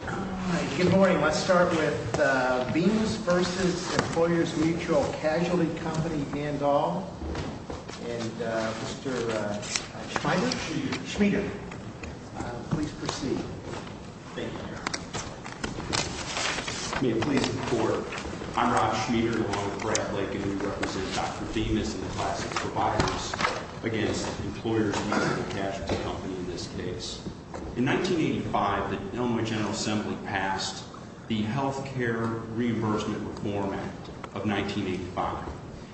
Good morning. Let's start with Bemis v. Employers Mutual Casualty Co., and Mr. Schmider, please proceed. May it please the Court, I'm Rob Schmider, along with Brett Blanken, who represent Dr. Bemis and the class of providers against Employers Mutual Casualty Co., in this case. In 1985, the Illinois General Assembly passed the Health Care Reimbursement Reform Act of 1985.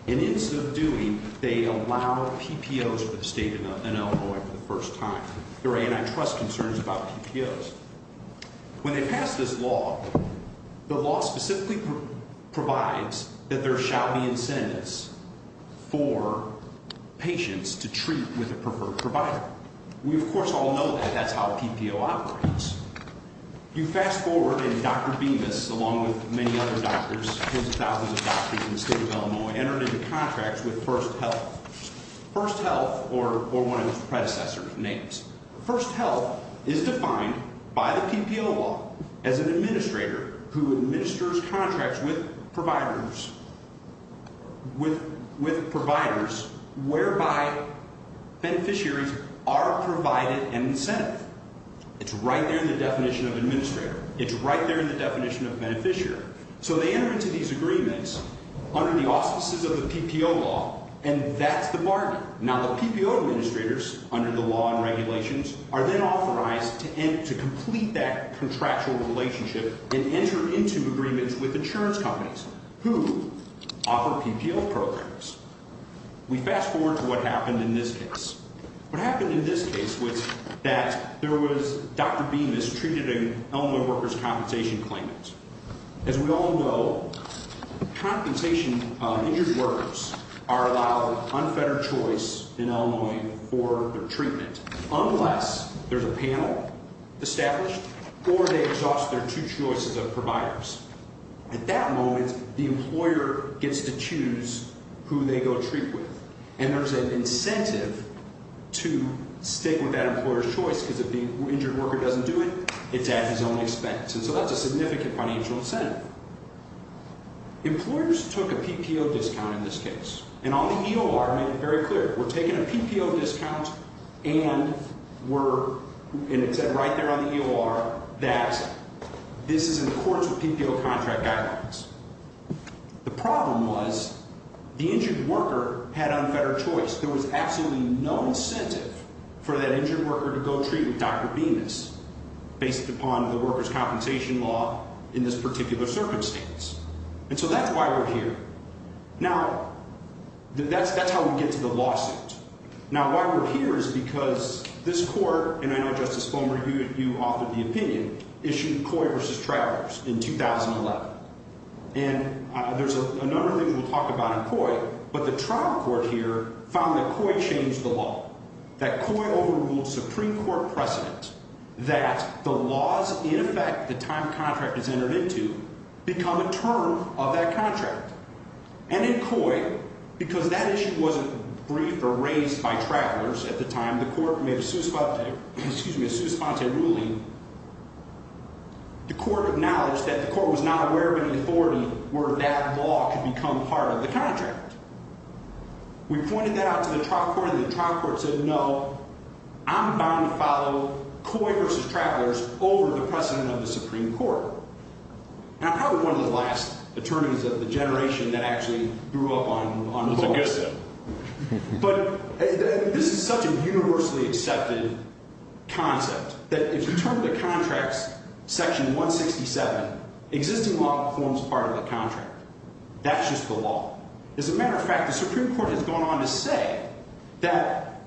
And in so doing, they allow PPOs for the state of Illinois for the first time. There are antitrust concerns about PPOs. When they passed this law, the law specifically provides that there shall be incentives for patients to treat with a preferred provider. We, of course, all know that that's how PPO operates. You fast forward, and Dr. Bemis, along with many other doctors, tens of thousands of doctors in the state of Illinois, entered into contracts with First Health. First Health, or one of its predecessors' names. First Health is defined by the PPO law as an administrator who administers contracts with providers whereby beneficiaries are provided an incentive. It's right there in the definition of administrator. It's right there in the definition of beneficiary. So they enter into these agreements under the auspices of the PPO law, and that's the bargain. Now, the PPO administrators, under the law and regulations, are then authorized to complete that contractual relationship and enter into agreements with insurance companies who offer PPO programs. We fast forward to what happened in this case. What happened in this case was that there was Dr. Bemis treated an Illinois workers' compensation claimant. As we all know, compensation injured workers are allowed unfettered choice in Illinois for their treatment unless there's a panel established or they exhaust their two choices of providers. At that moment, the employer gets to choose who they go treat with, and there's an incentive to stick with that employer's choice because if the injured worker doesn't do it, it's at his own expense. And so that's a significant financial incentive. Employers took a PPO discount in this case, and all the EOR made it very clear. We're taking a PPO discount, and it said right there on the EOR that this is in accordance with PPO contract guidelines. The problem was the injured worker had unfettered choice. There was absolutely no incentive for that injured worker to go treat with Dr. Bemis based upon the workers' compensation law in this particular circumstance. And so that's why we're here. Now, that's how we get to the lawsuit. Now, why we're here is because this court, and I know, Justice Fulmer, you authored the opinion, issued Coy v. Travers in 2011. And there's a number of things we'll talk about in Coy, but the trial court here found that Coy changed the law. That Coy overruled Supreme Court precedent that the laws, in effect, the time contract is entered into, become a term of that contract. And in Coy, because that issue wasn't briefed or raised by Travers at the time, the court made a sous-fante ruling. The court acknowledged that the court was not aware of any authority where that law could become part of the contract. We pointed that out to the trial court, and the trial court said, no, I'm bound to follow Coy v. Travers over the precedent of the Supreme Court. And I'm probably one of the last attorneys of the generation that actually grew up on the law. That's a good thing. But this is such a universally accepted concept that if you turn to the contracts, section 167, existing law forms part of the contract. That's just the law. As a matter of fact, the Supreme Court has gone on to say that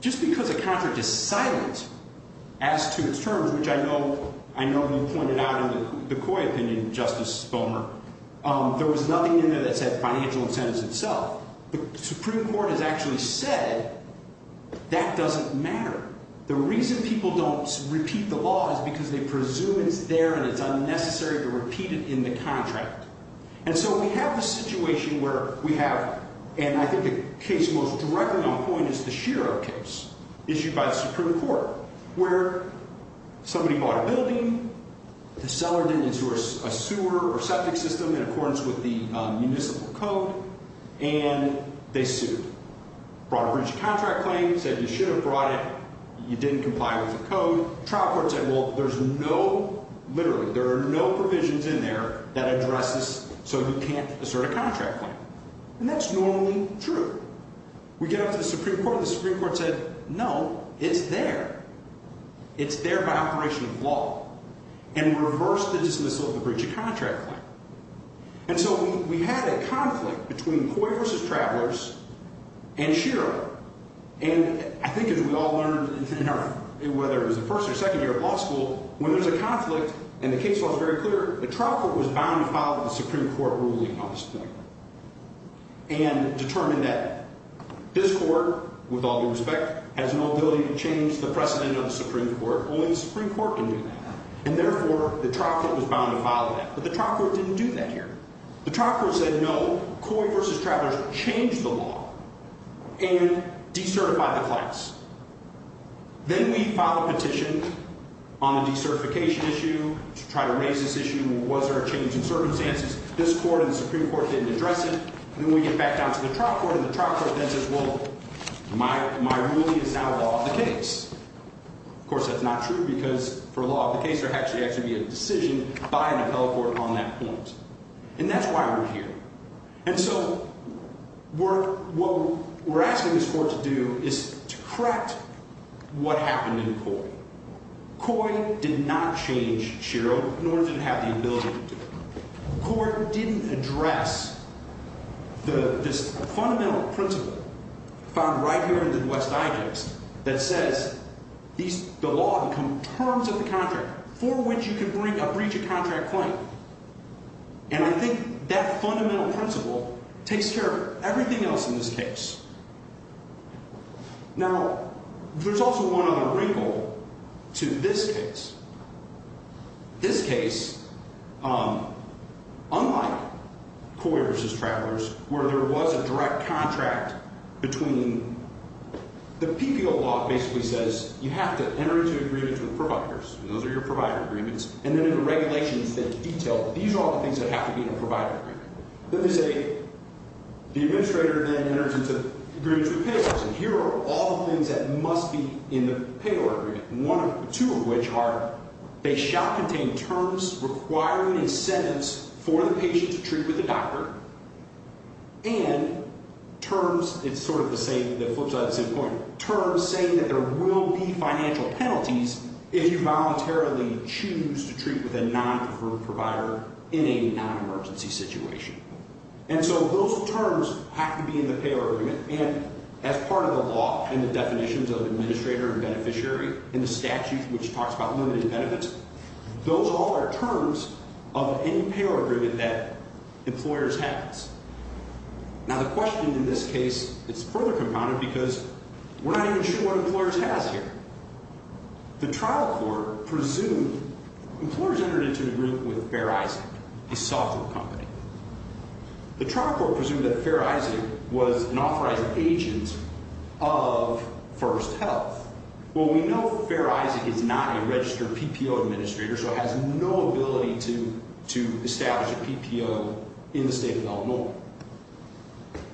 just because a contract is silent as to its terms, which I know you pointed out in the Coy opinion, Justice Bomer, there was nothing in there that said financial incentives itself. The Supreme Court has actually said that doesn't matter. The reason people don't repeat the law is because they presume it's there and it's unnecessary to repeat it in the contract. And so we have a situation where we have, and I think the case most directly on point is the Shiro case issued by the Supreme Court, where somebody bought a building. The seller didn't endorse a sewer or septic system in accordance with the municipal code, and they sued. Brought a breach of contract claim, said you should have brought it. You didn't comply with the code. Trial court said, well, there's no, literally, there are no provisions in there that address this so you can't assert a contract claim. And that's normally true. We get up to the Supreme Court, and the Supreme Court said, no, it's there. It's there by operation of law. And reversed the dismissal of the breach of contract claim. And so we had a conflict between Coy versus Travelers and Shiro. And I think as we all learned, whether it was the first or second year of law school, when there's a conflict, and the case law is very clear, the trial court was bound to follow the Supreme Court ruling on this thing and determine that this court, with all due respect, has no ability to change the precedent of the Supreme Court. Only the Supreme Court can do that. And therefore, the trial court was bound to follow that. But the trial court didn't do that here. The trial court said, no, Coy versus Travelers changed the law and decertified the class. Then we filed a petition on the decertification issue to try to raise this issue. Was there a change in circumstances? This court and the Supreme Court didn't address it. And then we get back down to the trial court, and the trial court then says, well, my ruling is now law of the case. Of course, that's not true, because for law of the case, there actually has to be a decision by an appellate court on that point. And that's why we're here. And so what we're asking this court to do is to correct what happened in Coy. Coy did not change Shiro, nor did it have the ability to do it. The court didn't address this fundamental principle found right here in the West Digest that says the law becomes terms of the contract for which you can bring a breach of contract claim. And I think that fundamental principle takes care of everything else in this case. Now, there's also one other wrinkle to this case. This case, unlike Coy v. Travelers, where there was a direct contract between the PPO law basically says you have to enter into agreements with providers. Those are your provider agreements. And then there are regulations that detail that these are all the things that have to be in a provider agreement. Let me say the administrator then enters into agreements with payors, and here are all the things that must be in the payor agreement, two of which are they shall contain terms requiring a sentence for the patient to treat with a doctor, and terms, it's sort of the same, it flips out at the same point, terms saying that there will be financial penalties if you voluntarily choose to treat with a non-confirmed provider in a non-emergency situation. And so those terms have to be in the payor agreement. And as part of the law and the definitions of administrator and beneficiary and the statute which talks about limited benefits, those all are terms of any payor agreement that employers have. Now, the question in this case is further compounded because we're not even sure what employers has here. The trial court presumed employers entered into an agreement with Fair Isaac, a software company. The trial court presumed that Fair Isaac was an authorized agent of First Health. Well, we know Fair Isaac is not a registered PPO administrator, so it has no ability to establish a PPO in the state of Illinois.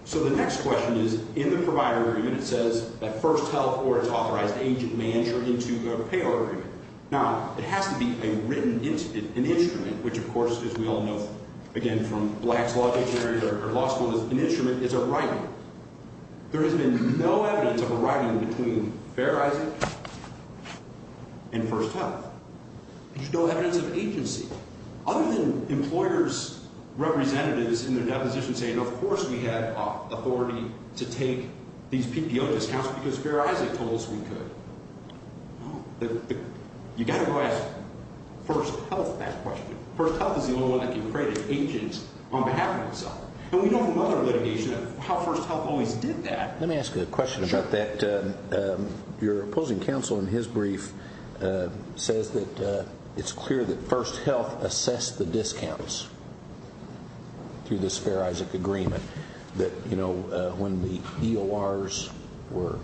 So the next question is in the provider agreement it says that First Health or its authorized agent may enter into the payor agreement. Now, it has to be a written instrument, an instrument which, of course, as we all know, again, from Black's law dictionary or law school, an instrument is a writing. There has been no evidence of a writing between Fair Isaac and First Health. There's no evidence of agency other than employers' representatives in their deposition saying, of course we have authority to take these PPO discounts because Fair Isaac told us we could. You've got to go ask First Health that question. First Health is the only one that can create an agent on behalf of itself. And we know from other litigation how First Health always did that. Let me ask a question about that. Your opposing counsel in his brief says that it's clear that First Health assessed the discounts through this Fair Isaac agreement, that when the EORs were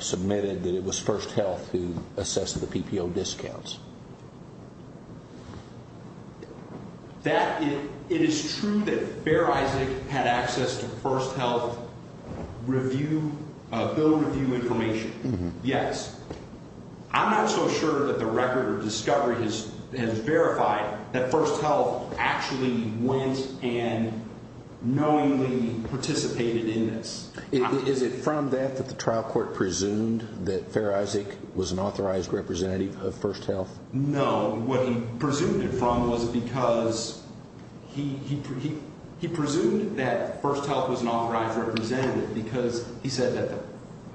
submitted that it was First Health who assessed the PPO discounts. It is true that Fair Isaac had access to First Health bill review information, yes. I'm not so sure that the record of discovery has verified that First Health actually went and knowingly participated in this. Is it from that that the trial court presumed that Fair Isaac was an authorized representative of First Health? No. What he presumed it from was because he presumed that First Health was an authorized representative because he said that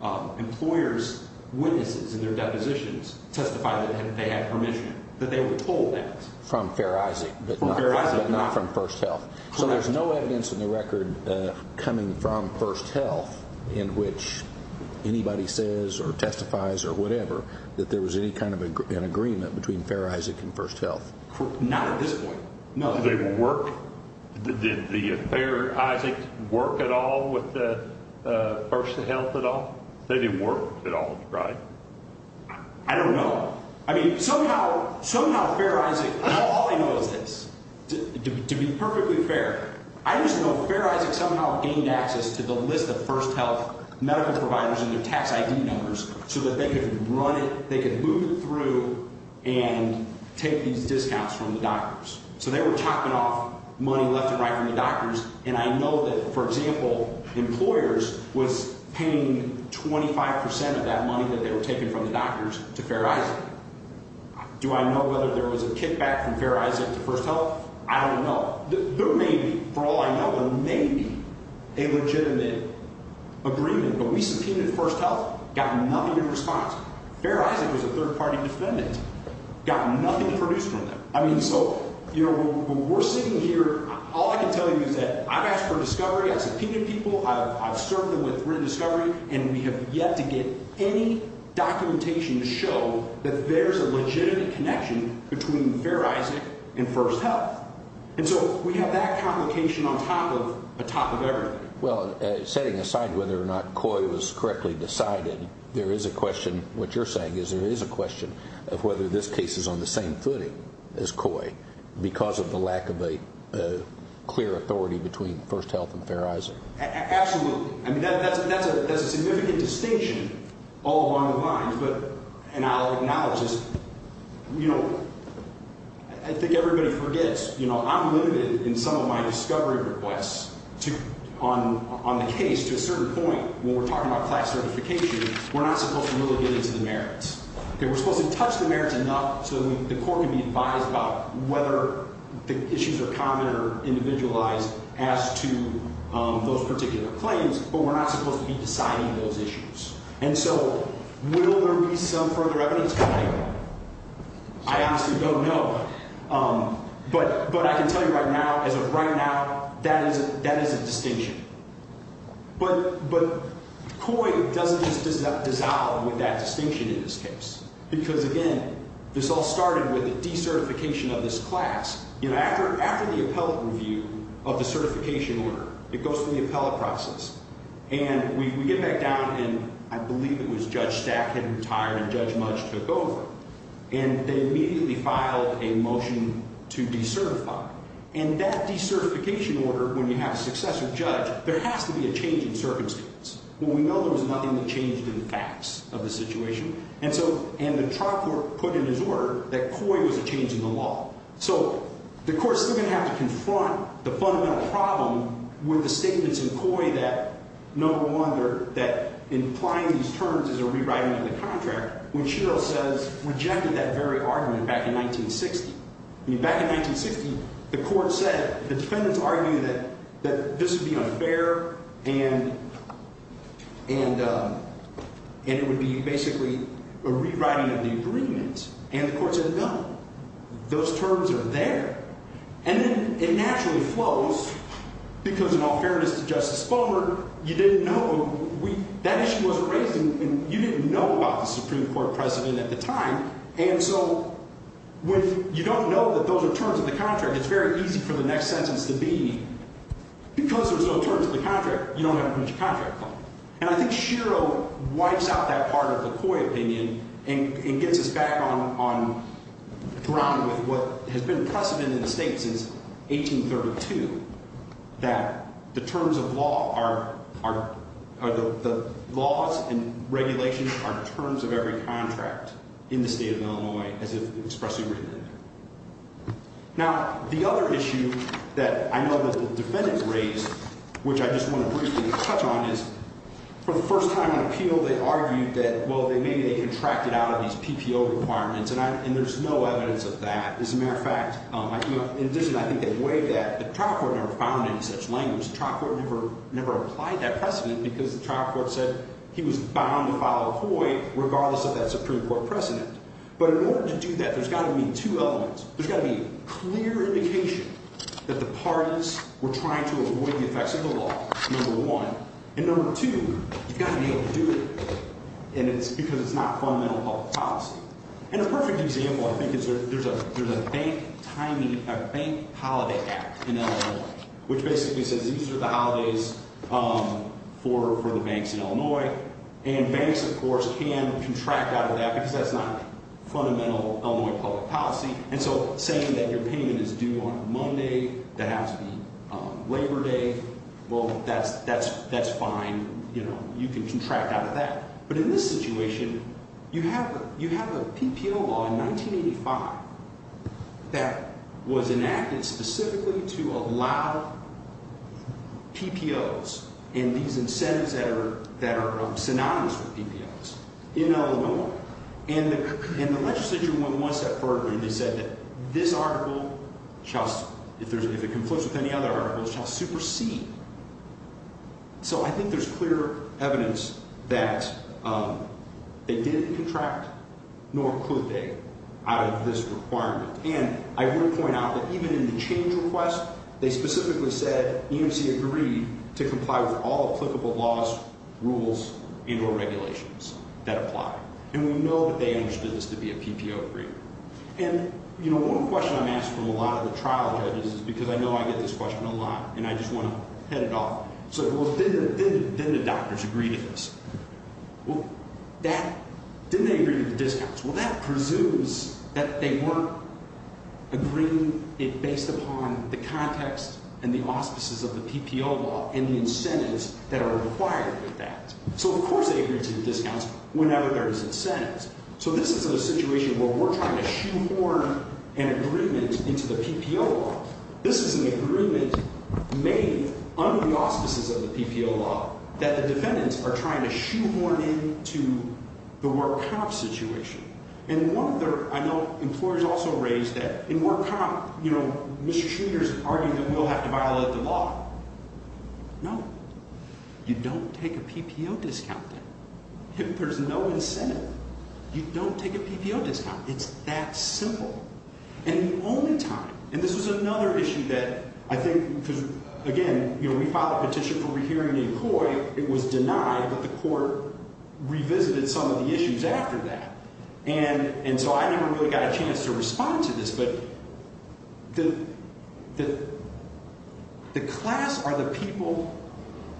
the employers' witnesses in their depositions testified that they had permission, that they were told that. From Fair Isaac, but not from First Health. Correct. So there's no evidence in the record coming from First Health in which anybody says or testifies or whatever that there was any kind of an agreement between Fair Isaac and First Health. Not at this point. No. Did they work? Did the Fair Isaac work at all with First Health at all? They didn't work at all, right? I don't know. I mean, somehow Fair Isaac, all I know is this, to be perfectly fair, I just know Fair Isaac somehow gained access to the list of First Health medical providers and their tax ID numbers so that they could run it, they could move it through and take these discounts from the doctors. So they were chopping off money left and right from the doctors, and I know that, for example, employers was paying 25 percent of that money that they were taking from the doctors to Fair Isaac. Do I know whether there was a kickback from Fair Isaac to First Health? I don't know. There may be, for all I know, there may be a legitimate agreement, but we subpoenaed First Health, got nothing in response. Fair Isaac was a third-party defendant, got nothing to produce from them. I mean, so, you know, when we're sitting here, all I can tell you is that I've asked for a discovery, I've subpoenaed people, I've served them with written discovery, and we have yet to get any documentation to show that there's a legitimate connection between Fair Isaac and First Health. And so we have that complication on top of everything. Well, setting aside whether or not COI was correctly decided, there is a question, what you're saying is there is a question of whether this case is on the same footing as COI because of the lack of a clear authority between First Health and Fair Isaac. Absolutely. I mean, that's a significant distinction all along the lines. And I'll acknowledge this, you know, I think everybody forgets, you know, I'm limited in some of my discovery requests on the case to a certain point. When we're talking about class certification, we're not supposed to really get into the merits. We're supposed to touch the merits enough so that the court can be advised about whether the issues are common or individualized as to those particular claims, but we're not supposed to be deciding those issues. And so will there be some further evidence tonight? I honestly don't know, but I can tell you right now, as of right now, that is a distinction. But COI doesn't just dissolve with that distinction in this case because, again, this all started with the decertification of this class. You know, after the appellate review of the certification order, it goes through the appellate process, and we get back down, and I believe it was Judge Stack had retired and Judge Mudge took over, and they immediately filed a motion to decertify. And that decertification order, when you have a successive judge, there has to be a change in circumstance. Well, we know there was nothing that changed in the facts of the situation, and the trial court put in his order that COI was a change in the law. So the court's still going to have to confront the fundamental problem with the statements in COI that, no wonder that implying these terms is a rewriting of the contract, when Shiro says rejected that very argument back in 1960. I mean, back in 1960, the court said the defendants argued that this would be unfair and it would be basically a rewriting of the agreement, and the court said no. Those terms are there. And then it naturally flows, because in all fairness to Justice Bomer, you didn't know. That issue wasn't raised, and you didn't know about the Supreme Court president at the time. And so when you don't know that those are terms of the contract, it's very easy for the next sentence to be, because there's no terms of the contract, you don't have a permission to contract claim. And I think Shiro wipes out that part of the COI opinion and gets us back on ground with what has been precedent in the state since 1832, that the terms of law are, the laws and regulations are terms of every contract in the state of Illinois, as if expressly written in there. Now, the other issue that I know that the defendants raised, which I just want to briefly touch on, is for the first time in appeal, they argued that, well, maybe they contracted out of these PPO requirements, and there's no evidence of that. As a matter of fact, in addition, I think they weighed that. The trial court never found any such language. The trial court never applied that precedent, because the trial court said he was bound to follow COI, regardless of that Supreme Court precedent. But in order to do that, there's got to be two elements. There's got to be clear indication that the parties were trying to avoid the effects of the law, number one. And number two, you've got to be able to do it, because it's not fundamental public policy. And a perfect example, I think, is there's a bank holiday act in Illinois, which basically says these are the holidays for the banks in Illinois. And banks, of course, can contract out of that, because that's not fundamental Illinois public policy. And so saying that your payment is due on Monday, that has to be Labor Day, well, that's fine. You can contract out of that. But in this situation, you have a PPO law in 1985 that was enacted specifically to allow PPOs and these incentives that are synonymous with PPOs in Illinois. And the legislature, when it was set forth, they said that this article, if it conflicts with any other articles, shall supersede. So I think there's clear evidence that they didn't contract, nor could they, out of this requirement. And I will point out that even in the change request, they specifically said EMC agreed to comply with all applicable laws, rules, and or regulations that apply. And we know that they understood this to be a PPO agreement. And, you know, one question I'm asked from a lot of the trial judges is because I know I get this question a lot, and I just want to head it off. So did the doctors agree to this? Well, didn't they agree to the discounts? Well, that presumes that they weren't agreeing it based upon the context and the auspices of the PPO law and the incentives that are required of that. So, of course, they agreed to the discounts whenever there is incentives. So this is a situation where we're trying to shoehorn an agreement into the PPO law. This is an agreement made under the auspices of the PPO law that the defendants are trying to shoehorn into the work comp situation. And I know employers also raised that in work comp, you know, mistreaters argue that we'll have to violate the law. No. You don't take a PPO discount then. There's no incentive. You don't take a PPO discount. It's that simple. And the only time, and this was another issue that I think because, again, you know, we filed a petition for rehearing the employee. It was denied, but the court revisited some of the issues after that. And so I never really got a chance to respond to this, but the class are the people,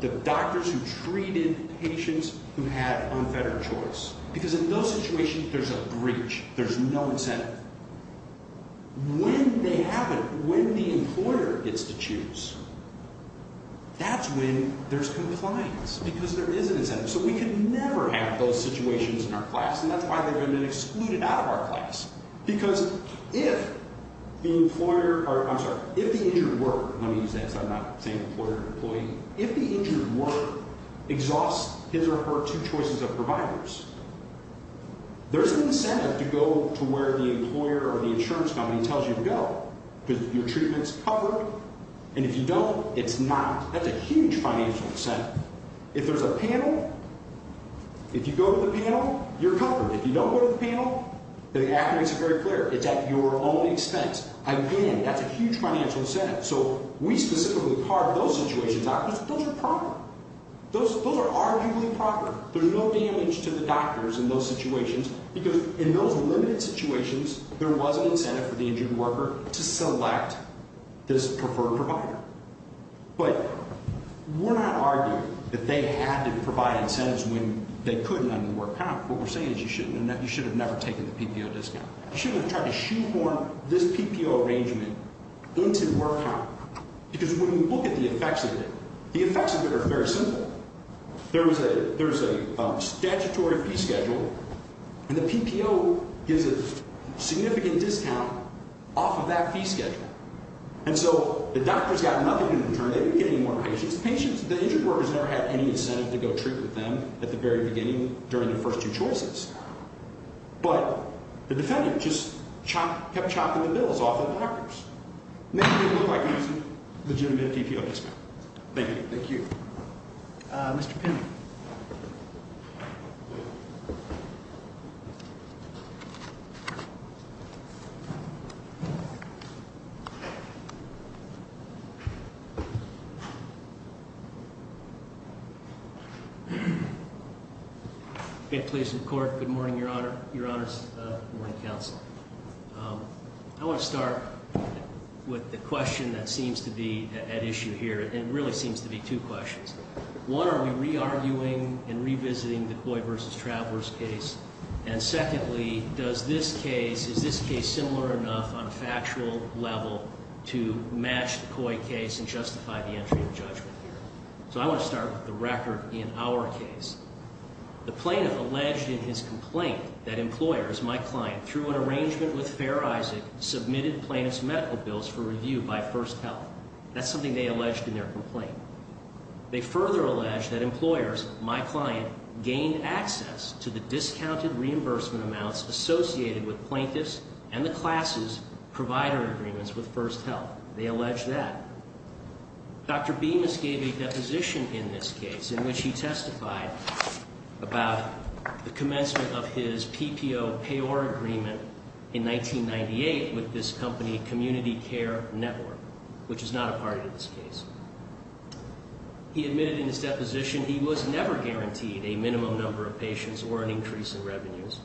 the doctors who treated patients who had unfettered choice. Because in those situations, there's a breach. There's no incentive. When they haven't, when the employer gets to choose, that's when there's compliance because there is an incentive. So we can never have those situations in our class, and that's why they've been excluded out of our class. Because if the employer, or I'm sorry, if the injured worker, let me use that, so I'm not saying employer or employee. If the injured worker exhausts his or her two choices of providers, there's an incentive to go to where the employer or the insurance company tells you to go. Because your treatment's covered, and if you don't, it's not. That's a huge financial incentive. If there's a panel, if you go to the panel, you're covered. If you don't go to the panel, the act makes it very clear. It's at your own expense. Again, that's a huge financial incentive. So we specifically carved those situations out because those are proper. Those are arguably proper. There's no damage to the doctors in those situations because in those limited situations, there was an incentive for the injured worker to select this preferred provider. But we're not arguing that they had to provide incentives when they couldn't under the work count. What we're saying is you should have never taken the PPO discount. You shouldn't have tried to shoehorn this PPO arrangement into the work count. Because when you look at the effects of it, the effects of it are very simple. There was a statutory fee schedule, and the PPO gives a significant discount off of that fee schedule. And so the doctors got nothing in return. They didn't get any more patients. The injured workers never had any incentive to go treat with them at the very beginning during their first two choices. But the defendant just kept chopping the bills off of the doctors. And they didn't look like they were using a legitimate PPO discount. Thank you. Thank you. Mr. Pinn. Good morning, Your Honor. Good morning, Counsel. I want to start with the question that seems to be at issue here. And it really seems to be two questions. One, are we re-arguing and revisiting the Coy versus Travers case? And secondly, does this case, is this case similar enough on a factual level to match the Coy case and justify the entry of judgment here? So I want to start with the record in our case. The plaintiff alleged in his complaint that employers, my client, through an arrangement with Fair Isaac, submitted plaintiff's medical bills for review by First Health. That's something they alleged in their complaint. They further alleged that employers, my client, gained access to the discounted reimbursement amounts associated with plaintiffs and the class's provider agreements with First Health. They alleged that. Dr. Bemis gave a deposition in this case in which he testified about the commencement of his PPO payor agreement in 1998 with this company, Community Care Network, which is not a part of this case. He admitted in his deposition he was never guaranteed a minimum number of patients or an increase in revenues.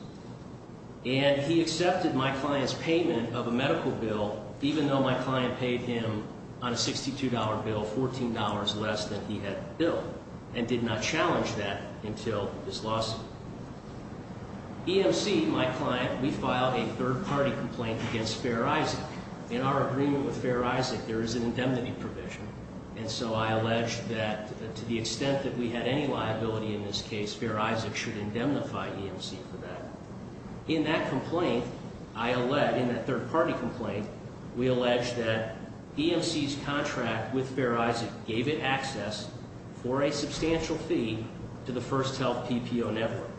And he accepted my client's payment of a medical bill, even though my client paid him on a $62 bill $14 less than he had billed, and did not challenge that until his lawsuit. EMC, my client, we filed a third-party complaint against Fair Isaac. In our agreement with Fair Isaac, there is an indemnity provision. And so I alleged that to the extent that we had any liability in this case, Fair Isaac should indemnify EMC for that. In that complaint, I allege, in that third-party complaint, we allege that EMC's contract with Fair Isaac gave it access for a substantial fee to the First Health PPO network.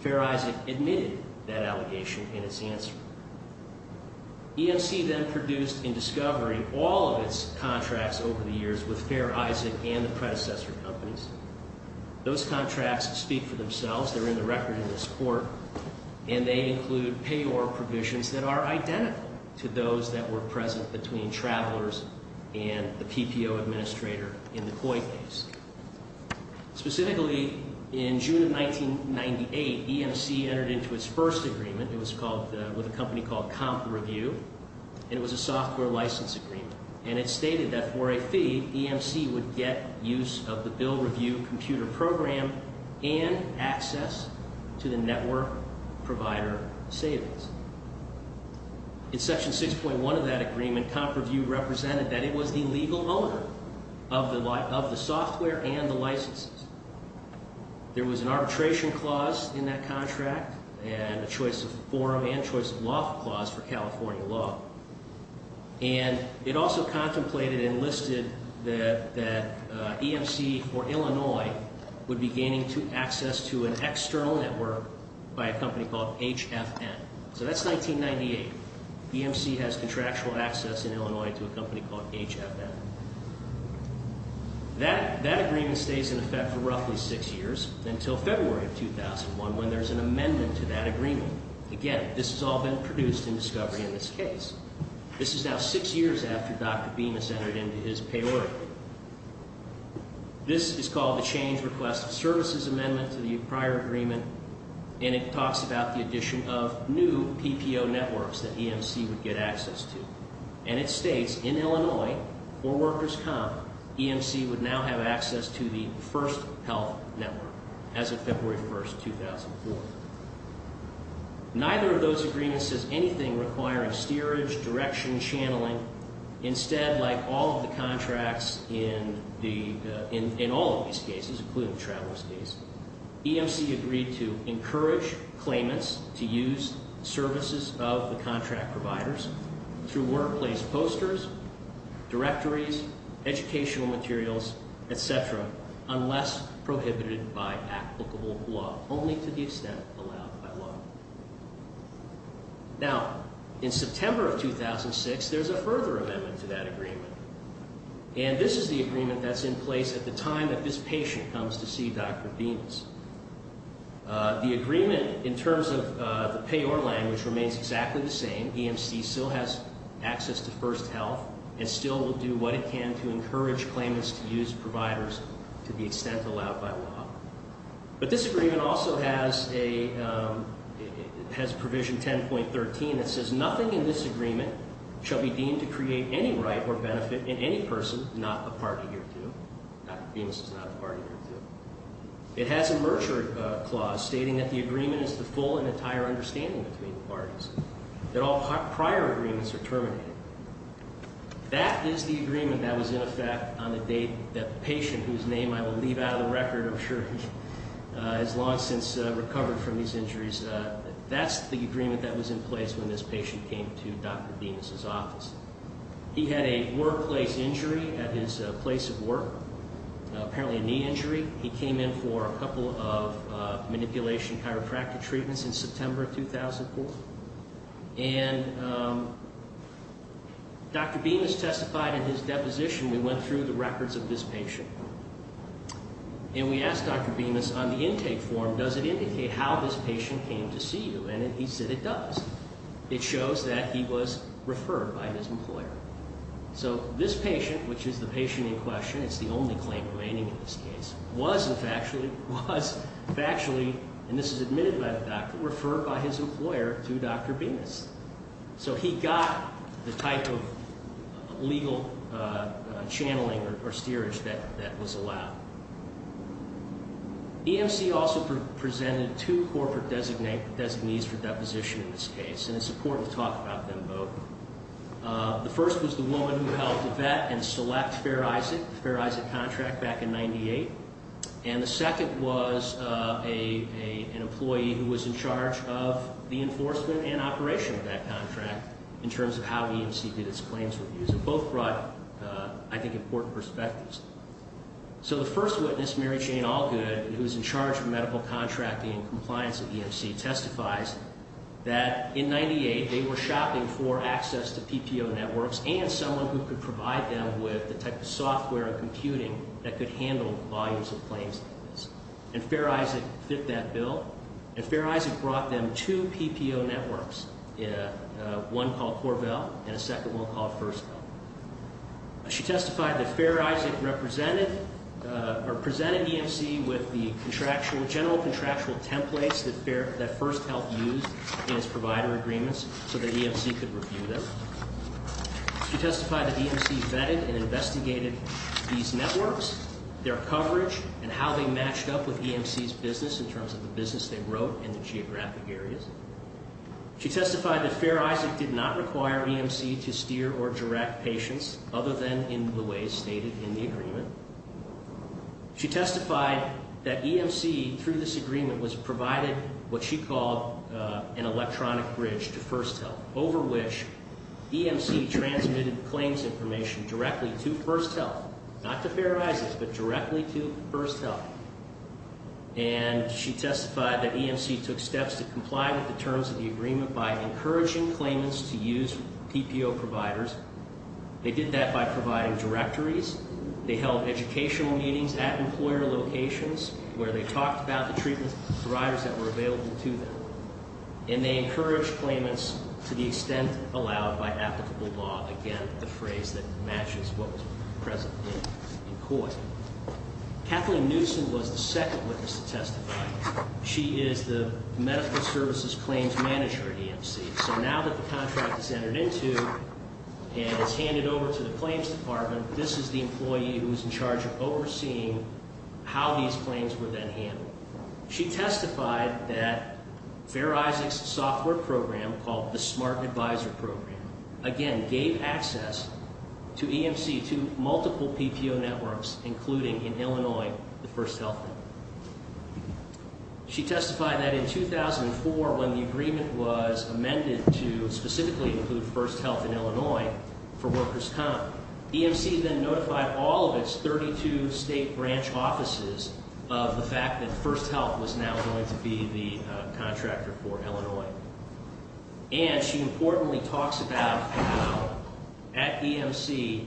Fair Isaac admitted that allegation in its answer. EMC then produced in discovery all of its contracts over the years with Fair Isaac and the predecessor companies. Those contracts speak for themselves. They're in the record in this court. And they include payor provisions that are identical to those that were present between travelers and the PPO administrator in the coin case. Specifically, in June of 1998, EMC entered into its first agreement. It was with a company called CompReview. And it was a software license agreement. And it stated that for a fee, EMC would get use of the bill review computer program and access to the network provider savings. In Section 6.1 of that agreement, CompReview represented that it was the legal owner of the software and the licenses. There was an arbitration clause in that contract and a choice of forum and choice of loft clause for California law. And it also contemplated and listed that EMC for Illinois would be gaining access to an external network by a company called HFN. So that's 1998. EMC has contractual access in Illinois to a company called HFN. That agreement stays in effect for roughly six years until February of 2001 when there's an amendment to that agreement. Again, this has all been produced in discovery in this case. This is now six years after Dr. Bemis entered into his payor. This is called the change request services amendment to the prior agreement. And it talks about the addition of new PPO networks that EMC would get access to. And it states in Illinois, for workers' comp, EMC would now have access to the first health network as of February 1st, 2004. Neither of those agreements says anything requiring steerage, direction, channeling. Instead, like all of the contracts in all of these cases, including the travelers' case, EMC agreed to encourage claimants to use services of the contract providers through workplace posters, directories, educational materials, etc., unless prohibited by applicable law, only to the extent allowed by law. Now, in September of 2006, there's a further amendment to that agreement. And this is the agreement that's in place at the time that this patient comes to see Dr. Bemis. The agreement, in terms of the payor language, remains exactly the same. Again, EMC still has access to first health and still will do what it can to encourage claimants to use providers to the extent allowed by law. But this agreement also has provision 10.13 that says nothing in this agreement shall be deemed to create any right or benefit in any person, not a party or two. Dr. Bemis is not a party or two. It has a merger clause stating that the agreement is the full and entire understanding between the parties. That all prior agreements are terminated. That is the agreement that was in effect on the date that the patient, whose name I will leave out of the record, I'm sure, has long since recovered from these injuries. That's the agreement that was in place when this patient came to Dr. Bemis' office. He had a workplace injury at his place of work, apparently a knee injury. He came in for a couple of manipulation chiropractic treatments in September 2004. And Dr. Bemis testified in his deposition. We went through the records of this patient. And we asked Dr. Bemis on the intake form, does it indicate how this patient came to see you? And he said it does. It shows that he was referred by his employer. So this patient, which is the patient in question, it's the only claim remaining in this case, was factually, and this is admitted by the doctor, referred by his employer to Dr. Bemis. So he got the type of legal channeling or steerage that was allowed. EMC also presented two corporate designees for deposition in this case. And it's important to talk about them both. The first was the woman who helped vet and select Fair Isaac, the Fair Isaac contract back in 1998. And the second was an employee who was in charge of the enforcement and operation of that contract in terms of how EMC did its claims reviews. And both brought, I think, important perspectives. So the first witness, Mary Jane Allgood, who was in charge of medical contracting and compliance at EMC, testifies that in 1998, they were shopping for access to PPO networks and someone who could provide them with the type of software and computing that could handle volumes of claims like this. And Fair Isaac fit that bill. And Fair Isaac brought them two PPO networks, one called Corvell and a second one called First Health. She testified that Fair Isaac presented EMC with the general contractual templates that First Health used in its provider agreements so that EMC could review them. She testified that EMC vetted and investigated these networks, their coverage, and how they matched up with EMC's business in terms of the business they wrote in the geographic areas. She testified that Fair Isaac did not require EMC to steer or direct patients other than in the ways stated in the agreement. She testified that EMC, through this agreement, was provided what she called an electronic bridge to First Health, over which EMC transmitted claims information directly to First Health. Not to Fair Isaac, but directly to First Health. And she testified that EMC took steps to comply with the terms of the agreement by encouraging claimants to use PPO providers. They did that by providing directories. They held educational meetings at employer locations where they talked about the treatment providers that were available to them. And they encouraged claimants to the extent allowed by applicable law. Again, the phrase that matches what was present in court. Kathleen Newsom was the second witness to testify. She is the Medical Services Claims Manager at EMC. So now that the contract is entered into and is handed over to the Claims Department, this is the employee who is in charge of overseeing how these claims were then handled. She testified that Fair Isaac's software program, called the Smart Advisor Program, again, gave access to EMC to multiple PPO networks, including, in Illinois, the First Health Network. She testified that in 2004, when the agreement was amended to specifically include First Health in Illinois for workers' comp, EMC then notified all of its 32 state branch offices of the fact that First Health was now going to be the contractor for Illinois. And she importantly talks about how, at EMC,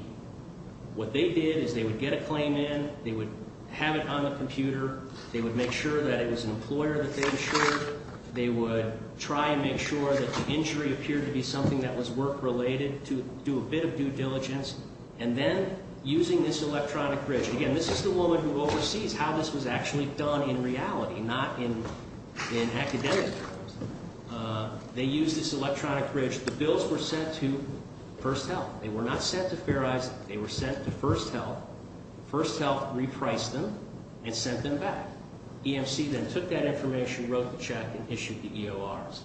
what they did is they would get a claim in. They would have it on the computer. They would make sure that it was an employer that they insured. They would try and make sure that the injury appeared to be something that was work-related to do a bit of due diligence. And then, using this electronic bridge, again, this is the woman who oversees how this was actually done in reality, not in academic terms. They used this electronic bridge. The bills were sent to First Health. They were not sent to Fair Isaac. They were sent to First Health. First Health repriced them and sent them back. EMC then took that information, wrote the check, and issued the EORs.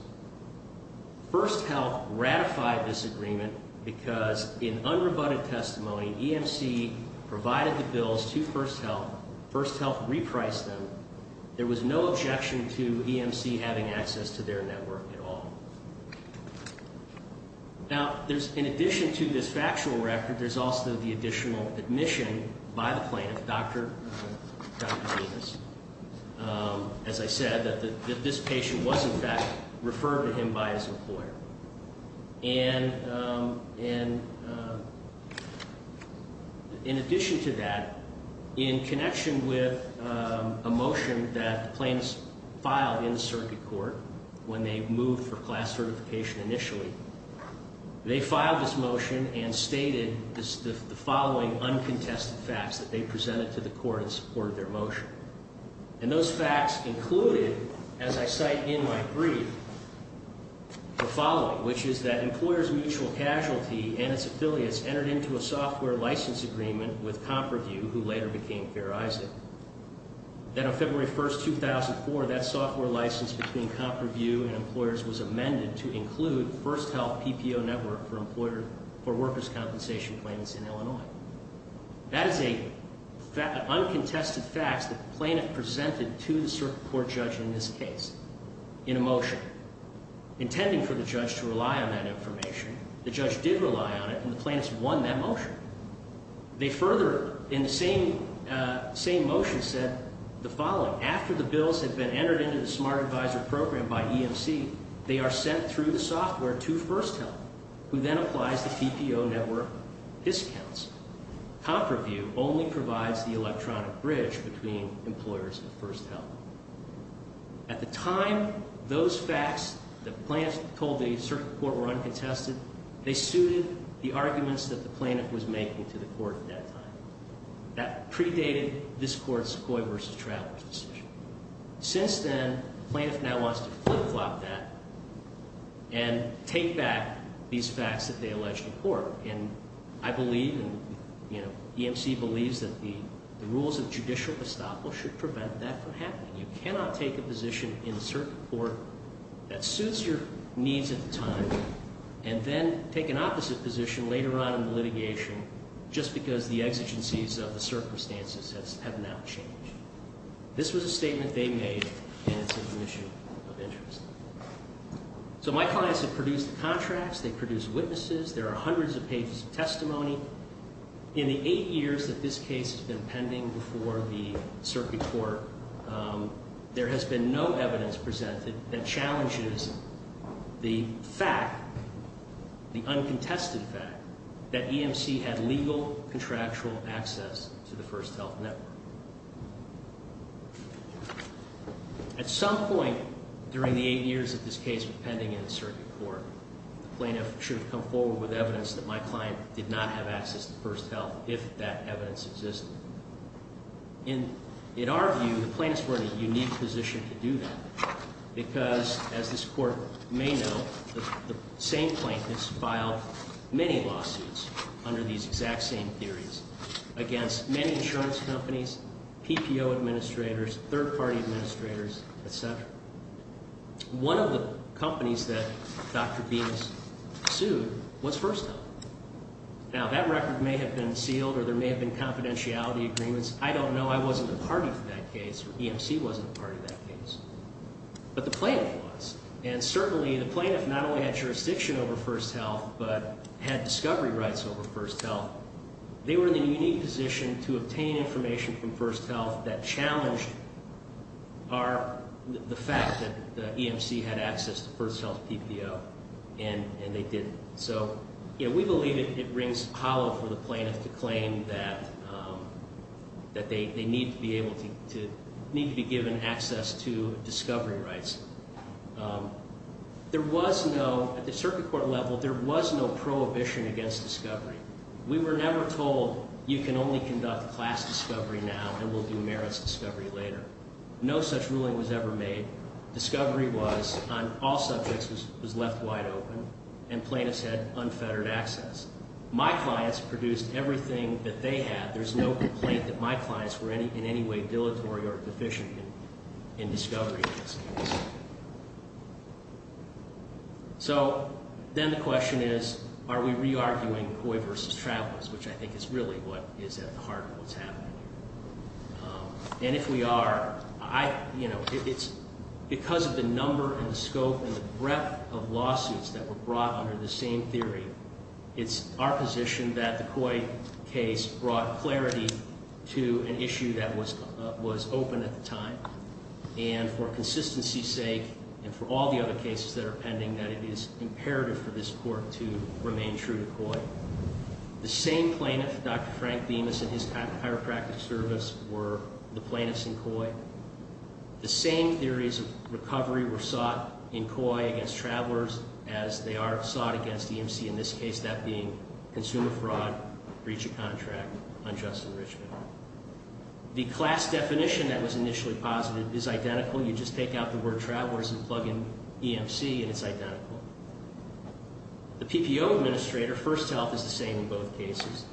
First Health ratified this agreement because, in unrebutted testimony, EMC provided the bills to First Health. First Health repriced them. There was no objection to EMC having access to their network at all. Now, in addition to this factual record, there's also the additional admission by the plaintiff, Dr. Davis, as I said, that this patient was, in fact, referred to him by his employer. And in addition to that, in connection with a motion that the plaintiffs filed in the circuit court when they moved for class certification initially, they filed this motion and stated the following uncontested facts that they presented to the court in support of their motion. And those facts included, as I cite in my brief, the following, which is that employers' mutual casualty and its affiliates entered into a software license agreement with Comperview, who later became Fair Isaac. Then on February 1, 2004, that software license between Comperview and employers was amended to include First Health PPO network for workers' compensation claims in Illinois. That is an uncontested fact that the plaintiff presented to the circuit court judge in this case in a motion intending for the judge to rely on that information. The judge did rely on it, and the plaintiffs won that motion. They further, in the same motion, said the following. After the bills had been entered into the Smart Advisor program by EMC, they are sent through the software to First Health, who then applies the PPO network discounts. Comperview only provides the electronic bridge between employers and First Health. At the time, those facts that the plaintiffs told the circuit court were uncontested, they suited the arguments that the plaintiff was making to the court at that time. That predated this court's Coy v. Travers decision. Since then, the plaintiff now wants to flip-flop that and take back these facts that they alleged in court. And I believe, and EMC believes, that the rules of judicial estoppel should prevent that from happening. You cannot take a position in the circuit court that suits your needs at the time and then take an opposite position later on in the litigation just because the exigencies of the circumstances have not changed. This was a statement they made, and it's an issue of interest. So my clients have produced contracts. They've produced witnesses. There are hundreds of pages of testimony. In the eight years that this case has been pending before the circuit court, there has been no evidence presented that challenges the fact, the uncontested fact, that EMC had legal contractual access to the First Health network. At some point during the eight years that this case was pending in the circuit court, the plaintiff should have come forward with evidence that my client did not have access to First Health if that evidence existed. In our view, the plaintiffs were in a unique position to do that because, as this court may know, the same plaintiffs filed many lawsuits under these exact same theories against many insurance companies, PPO administrators, third-party administrators, et cetera. One of the companies that Dr. Benes sued was First Health. Now, that record may have been sealed, or there may have been confidentiality agreements. I don't know. I wasn't a party to that case, or EMC wasn't a party to that case. But the plaintiff was, and certainly the plaintiff not only had jurisdiction over First Health but had discovery rights over First Health. They were in a unique position to obtain information from First Health that challenged the fact that EMC had access to First Health PPO, and they didn't. So we believe it rings hollow for the plaintiff to claim that they need to be given access to discovery rights. There was no—at the circuit court level, there was no prohibition against discovery. We were never told, you can only conduct class discovery now and we'll do merits discovery later. No such ruling was ever made. Discovery was on all subjects was left wide open, and plaintiffs had unfettered access. My clients produced everything that they had. There's no complaint that my clients were in any way dilatory or deficient in discovery in this case. So then the question is, are we re-arguing COI versus travelers, which I think is really what is at the heart of what's happening here. And if we are, it's because of the number and the scope and the breadth of lawsuits that were brought under the same theory. It's our position that the COI case brought clarity to an issue that was open at the time. And for consistency's sake and for all the other cases that are pending, that it is imperative for this court to remain true to COI. The same plaintiff, Dr. Frank Bemis and his chiropractic service were the plaintiffs in COI. The same theories of recovery were sought in COI against travelers as they are sought against EMC, in this case that being consumer fraud, breach of contract, unjust enrichment. The class definition that was initially posited is identical. You just take out the word travelers and plug in EMC and it's identical. The PPO administrator, First Health, is the same in both cases.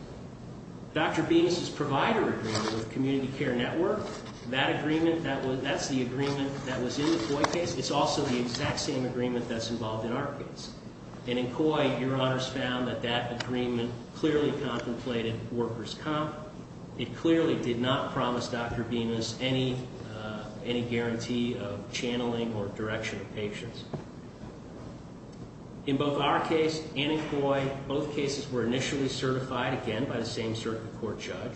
Dr. Bemis' provider agreement with Community Care Network, that's the agreement that was in the COI case. It's also the exact same agreement that's involved in our case. And in COI, Your Honors found that that agreement clearly contemplated workers' comp. It clearly did not promise Dr. Bemis any guarantee of channeling or direction of patients. In both our case and in COI, both cases were initially certified, again, by the same circuit court judge.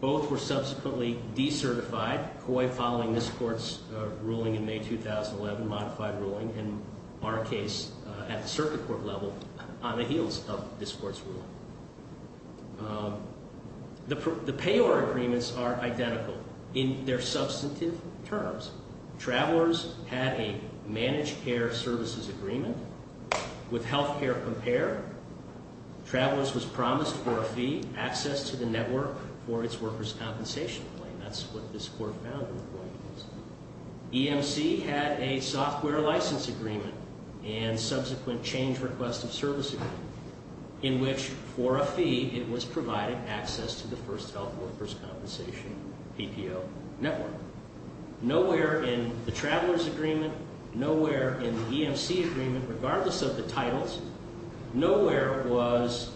Both were subsequently decertified, COI following this court's ruling in May 2011, modified ruling in our case at the circuit court level on the heels of this court's ruling. The PAYOR agreements are identical in their substantive terms. Travelers had a managed care services agreement with Healthcare Compare. Travelers was promised for a fee access to the network for its workers' compensation claim. That's what this court found in the COI case. EMC had a software license agreement and subsequent change request of services in which for a fee it was provided access to the First Health workers' compensation PPO network. Nowhere in the Travelers agreement, nowhere in the EMC agreement, regardless of the titles, nowhere was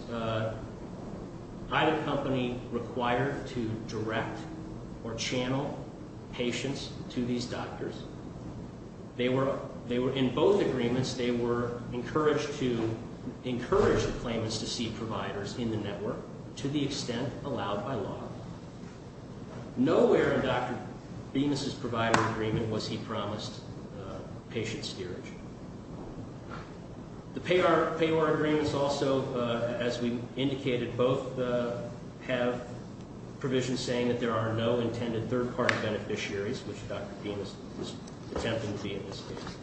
either company required to direct or channel patients to these doctors. In both agreements, they were encouraged to encourage the claimants to see providers in the network to the extent allowed by law. Nowhere in Dr. Bemis' provider agreement was he promised patient steerage. The PAYOR agreements also, as we indicated, both have provision saying that there are no intended third-party beneficiaries, which Dr. Bemis was attempting to be in this case.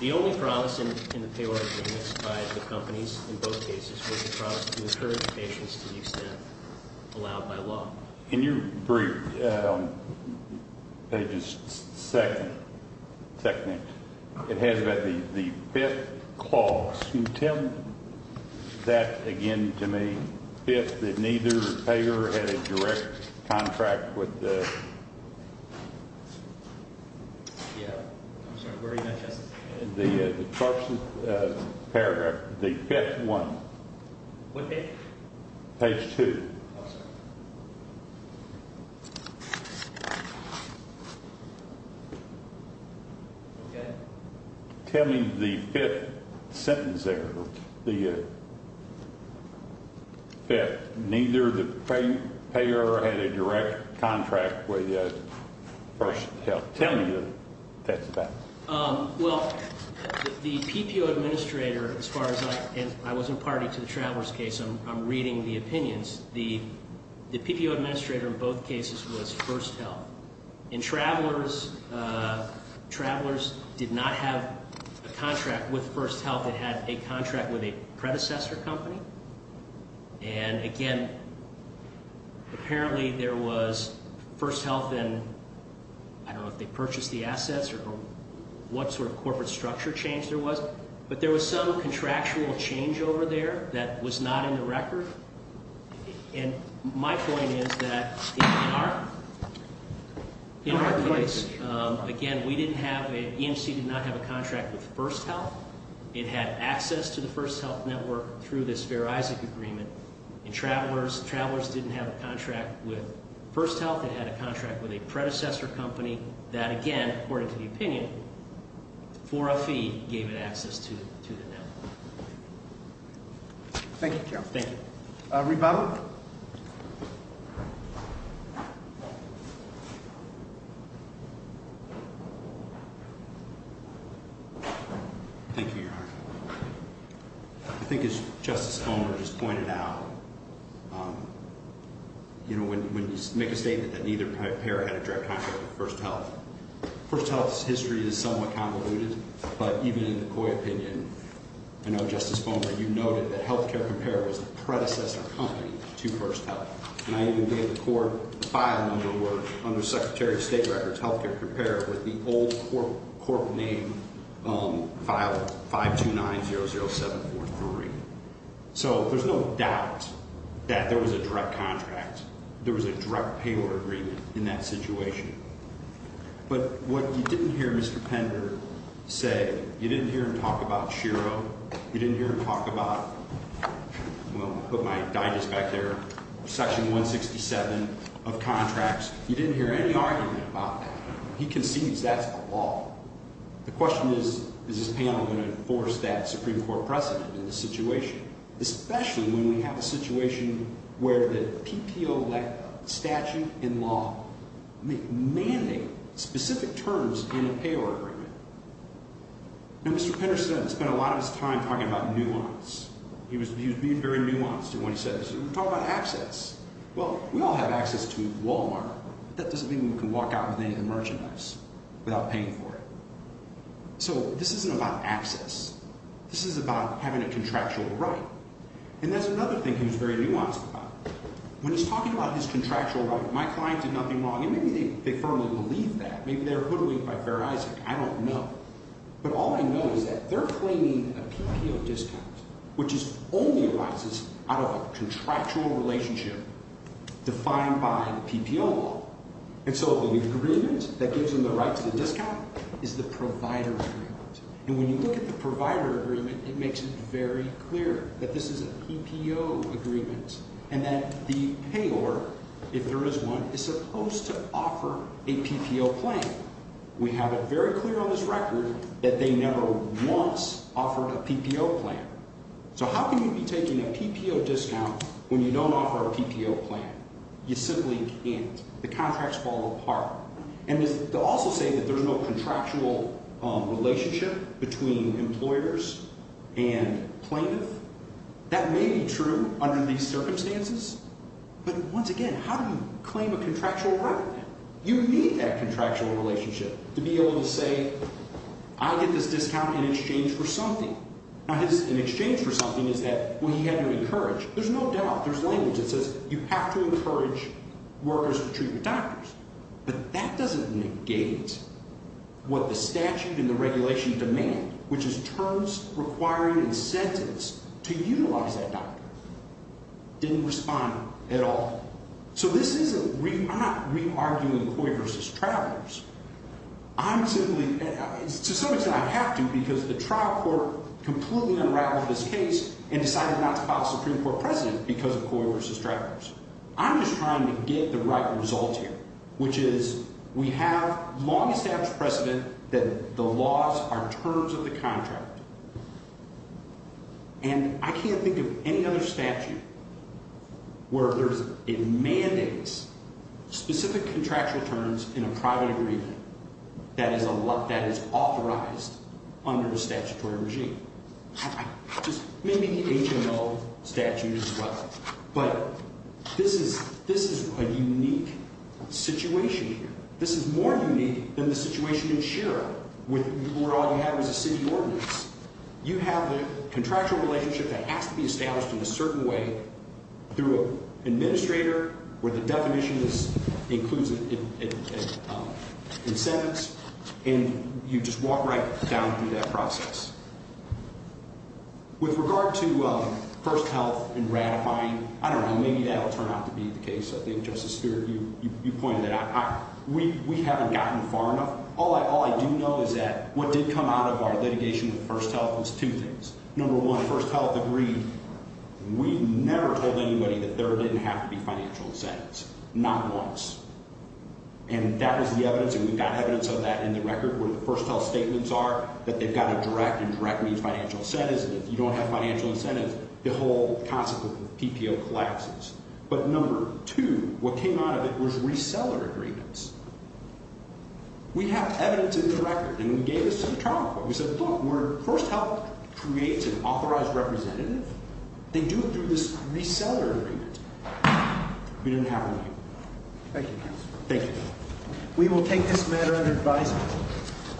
The only promise in the PAYOR agreements by the companies in both cases was the promise to encourage patients to the extent allowed by law. In your brief, pages second, it has about the fifth clause. Can you tell that again to me? Fifth, that neither PAYOR had a direct contract with the... What page? Page two. Oh, sorry. Okay. Tell me the fifth sentence there, the fifth. Neither the PAYOR had a direct contract with the First Health. Tell me what that's about. Well, the PPO administrator, as far as I... And I wasn't party to the Traveler's case. I'm reading the opinions. The PPO administrator in both cases was First Health. And Traveler's did not have a contract with First Health. It had a contract with a predecessor company. And, again, apparently there was First Health in... I don't know if they purchased the assets or what sort of corporate structure change there was, but there was some contractual change over there that was not in the record. And my point is that in our case, again, we didn't have a... EMC did not have a contract with First Health. It had access to the First Health network through this Fair Isaac agreement. In Traveler's, Traveler's didn't have a contract with First Health. It had a contract with a predecessor company that, again, according to the opinion, for a fee, gave it access to the network. Thank you, Chairman. Thank you. Rebaba? Thank you, Your Honor. I think, as Justice Fulmer just pointed out, when you make a statement that neither pair had a direct contract with First Health, First Health's history is somewhat convoluted, but even in the Coy opinion, I know, Justice Fulmer, you noted that Healthcare Compare was the predecessor company to First Health. And I even gave the court the file number where, under Secretary of State records, Healthcare Compare with the old court name file 529-00743. So there's no doubt that there was a direct contract. There was a direct payroll agreement in that situation. But what you didn't hear Mr. Pender say, you didn't hear him talk about Shiro. You didn't hear him talk about, well, I'll put my digest back there, Section 167 of contracts. You didn't hear any argument about that. He concedes that's a law. The question is, is this panel going to enforce that Supreme Court precedent in this situation, especially when we have a situation where the PPO statute in law may mandate specific terms in a payroll agreement. Now, Mr. Pender spent a lot of his time talking about nuance. He was being very nuanced in what he said. He said, we're talking about access. Well, we all have access to Walmart. But that doesn't mean we can walk out with any of the merchandise without paying for it. So this isn't about access. This is about having a contractual right. And that's another thing he was very nuanced about. When he's talking about his contractual right, my client did nothing wrong. And maybe they firmly believe that. Maybe they're hooding it by Fair Isaac. I don't know. But all I know is that they're claiming a PPO discount, which only arises out of a contractual relationship defined by the PPO law. And so the agreement that gives them the right to the discount is the provider agreement. And when you look at the provider agreement, it makes it very clear that this is a PPO agreement and that the payor, if there is one, is supposed to offer a PPO plan. We have it very clear on this record that they never once offered a PPO plan. So how can you be taking a PPO discount when you don't offer a PPO plan? You simply can't. The contracts fall apart. And to also say that there's no contractual relationship between employers and plaintiffs, that may be true under these circumstances. But once again, how do you claim a contractual right? You need that contractual relationship to be able to say, I get this discount in exchange for something. Now, his in exchange for something is that, well, he had to encourage. There's no doubt. There's language that says you have to encourage workers to treat with doctors. But that doesn't negate what the statute and the regulation demand, which is terms requiring incentives to utilize that doctor. Didn't respond at all. So I'm not re-arguing Coy v. Travelers. To some extent, I have to because the trial court completely unraveled this case and decided not to file a Supreme Court precedent because of Coy v. Travelers. I'm just trying to get the right result here, which is we have long-established precedent that the laws are terms of the contract. And I can't think of any other statute where it mandates specific contractual terms in a private agreement that is authorized under the statutory regime. Maybe the HMO statute as well. But this is a unique situation here. This is more unique than the situation in Shira, where all you have is a city ordinance. You have a contractual relationship that has to be established in a certain way through an administrator where the definition includes incentives, and you just walk right down through that process. With regard to first health and ratifying, I don't know. Maybe that will turn out to be the case. I think, Justice Stewart, you pointed that out. We haven't gotten far enough. All I do know is that what did come out of our litigation with first health was two things. Number one, first health agreed. We never told anybody that there didn't have to be financial incentives, not once. And that is the evidence, and we've got evidence of that in the record, where the first health statements are that they've got a direct and direct means financial incentives, and if you don't have financial incentives, the whole concept of PPO collapses. But number two, what came out of it was reseller agreements. We have evidence in the record, and we gave this to the trial court. We said, look, where first health creates an authorized representative, they do it through this reseller agreement. We didn't have one. Thank you, counsel. Thank you. We will take this matter under advisement.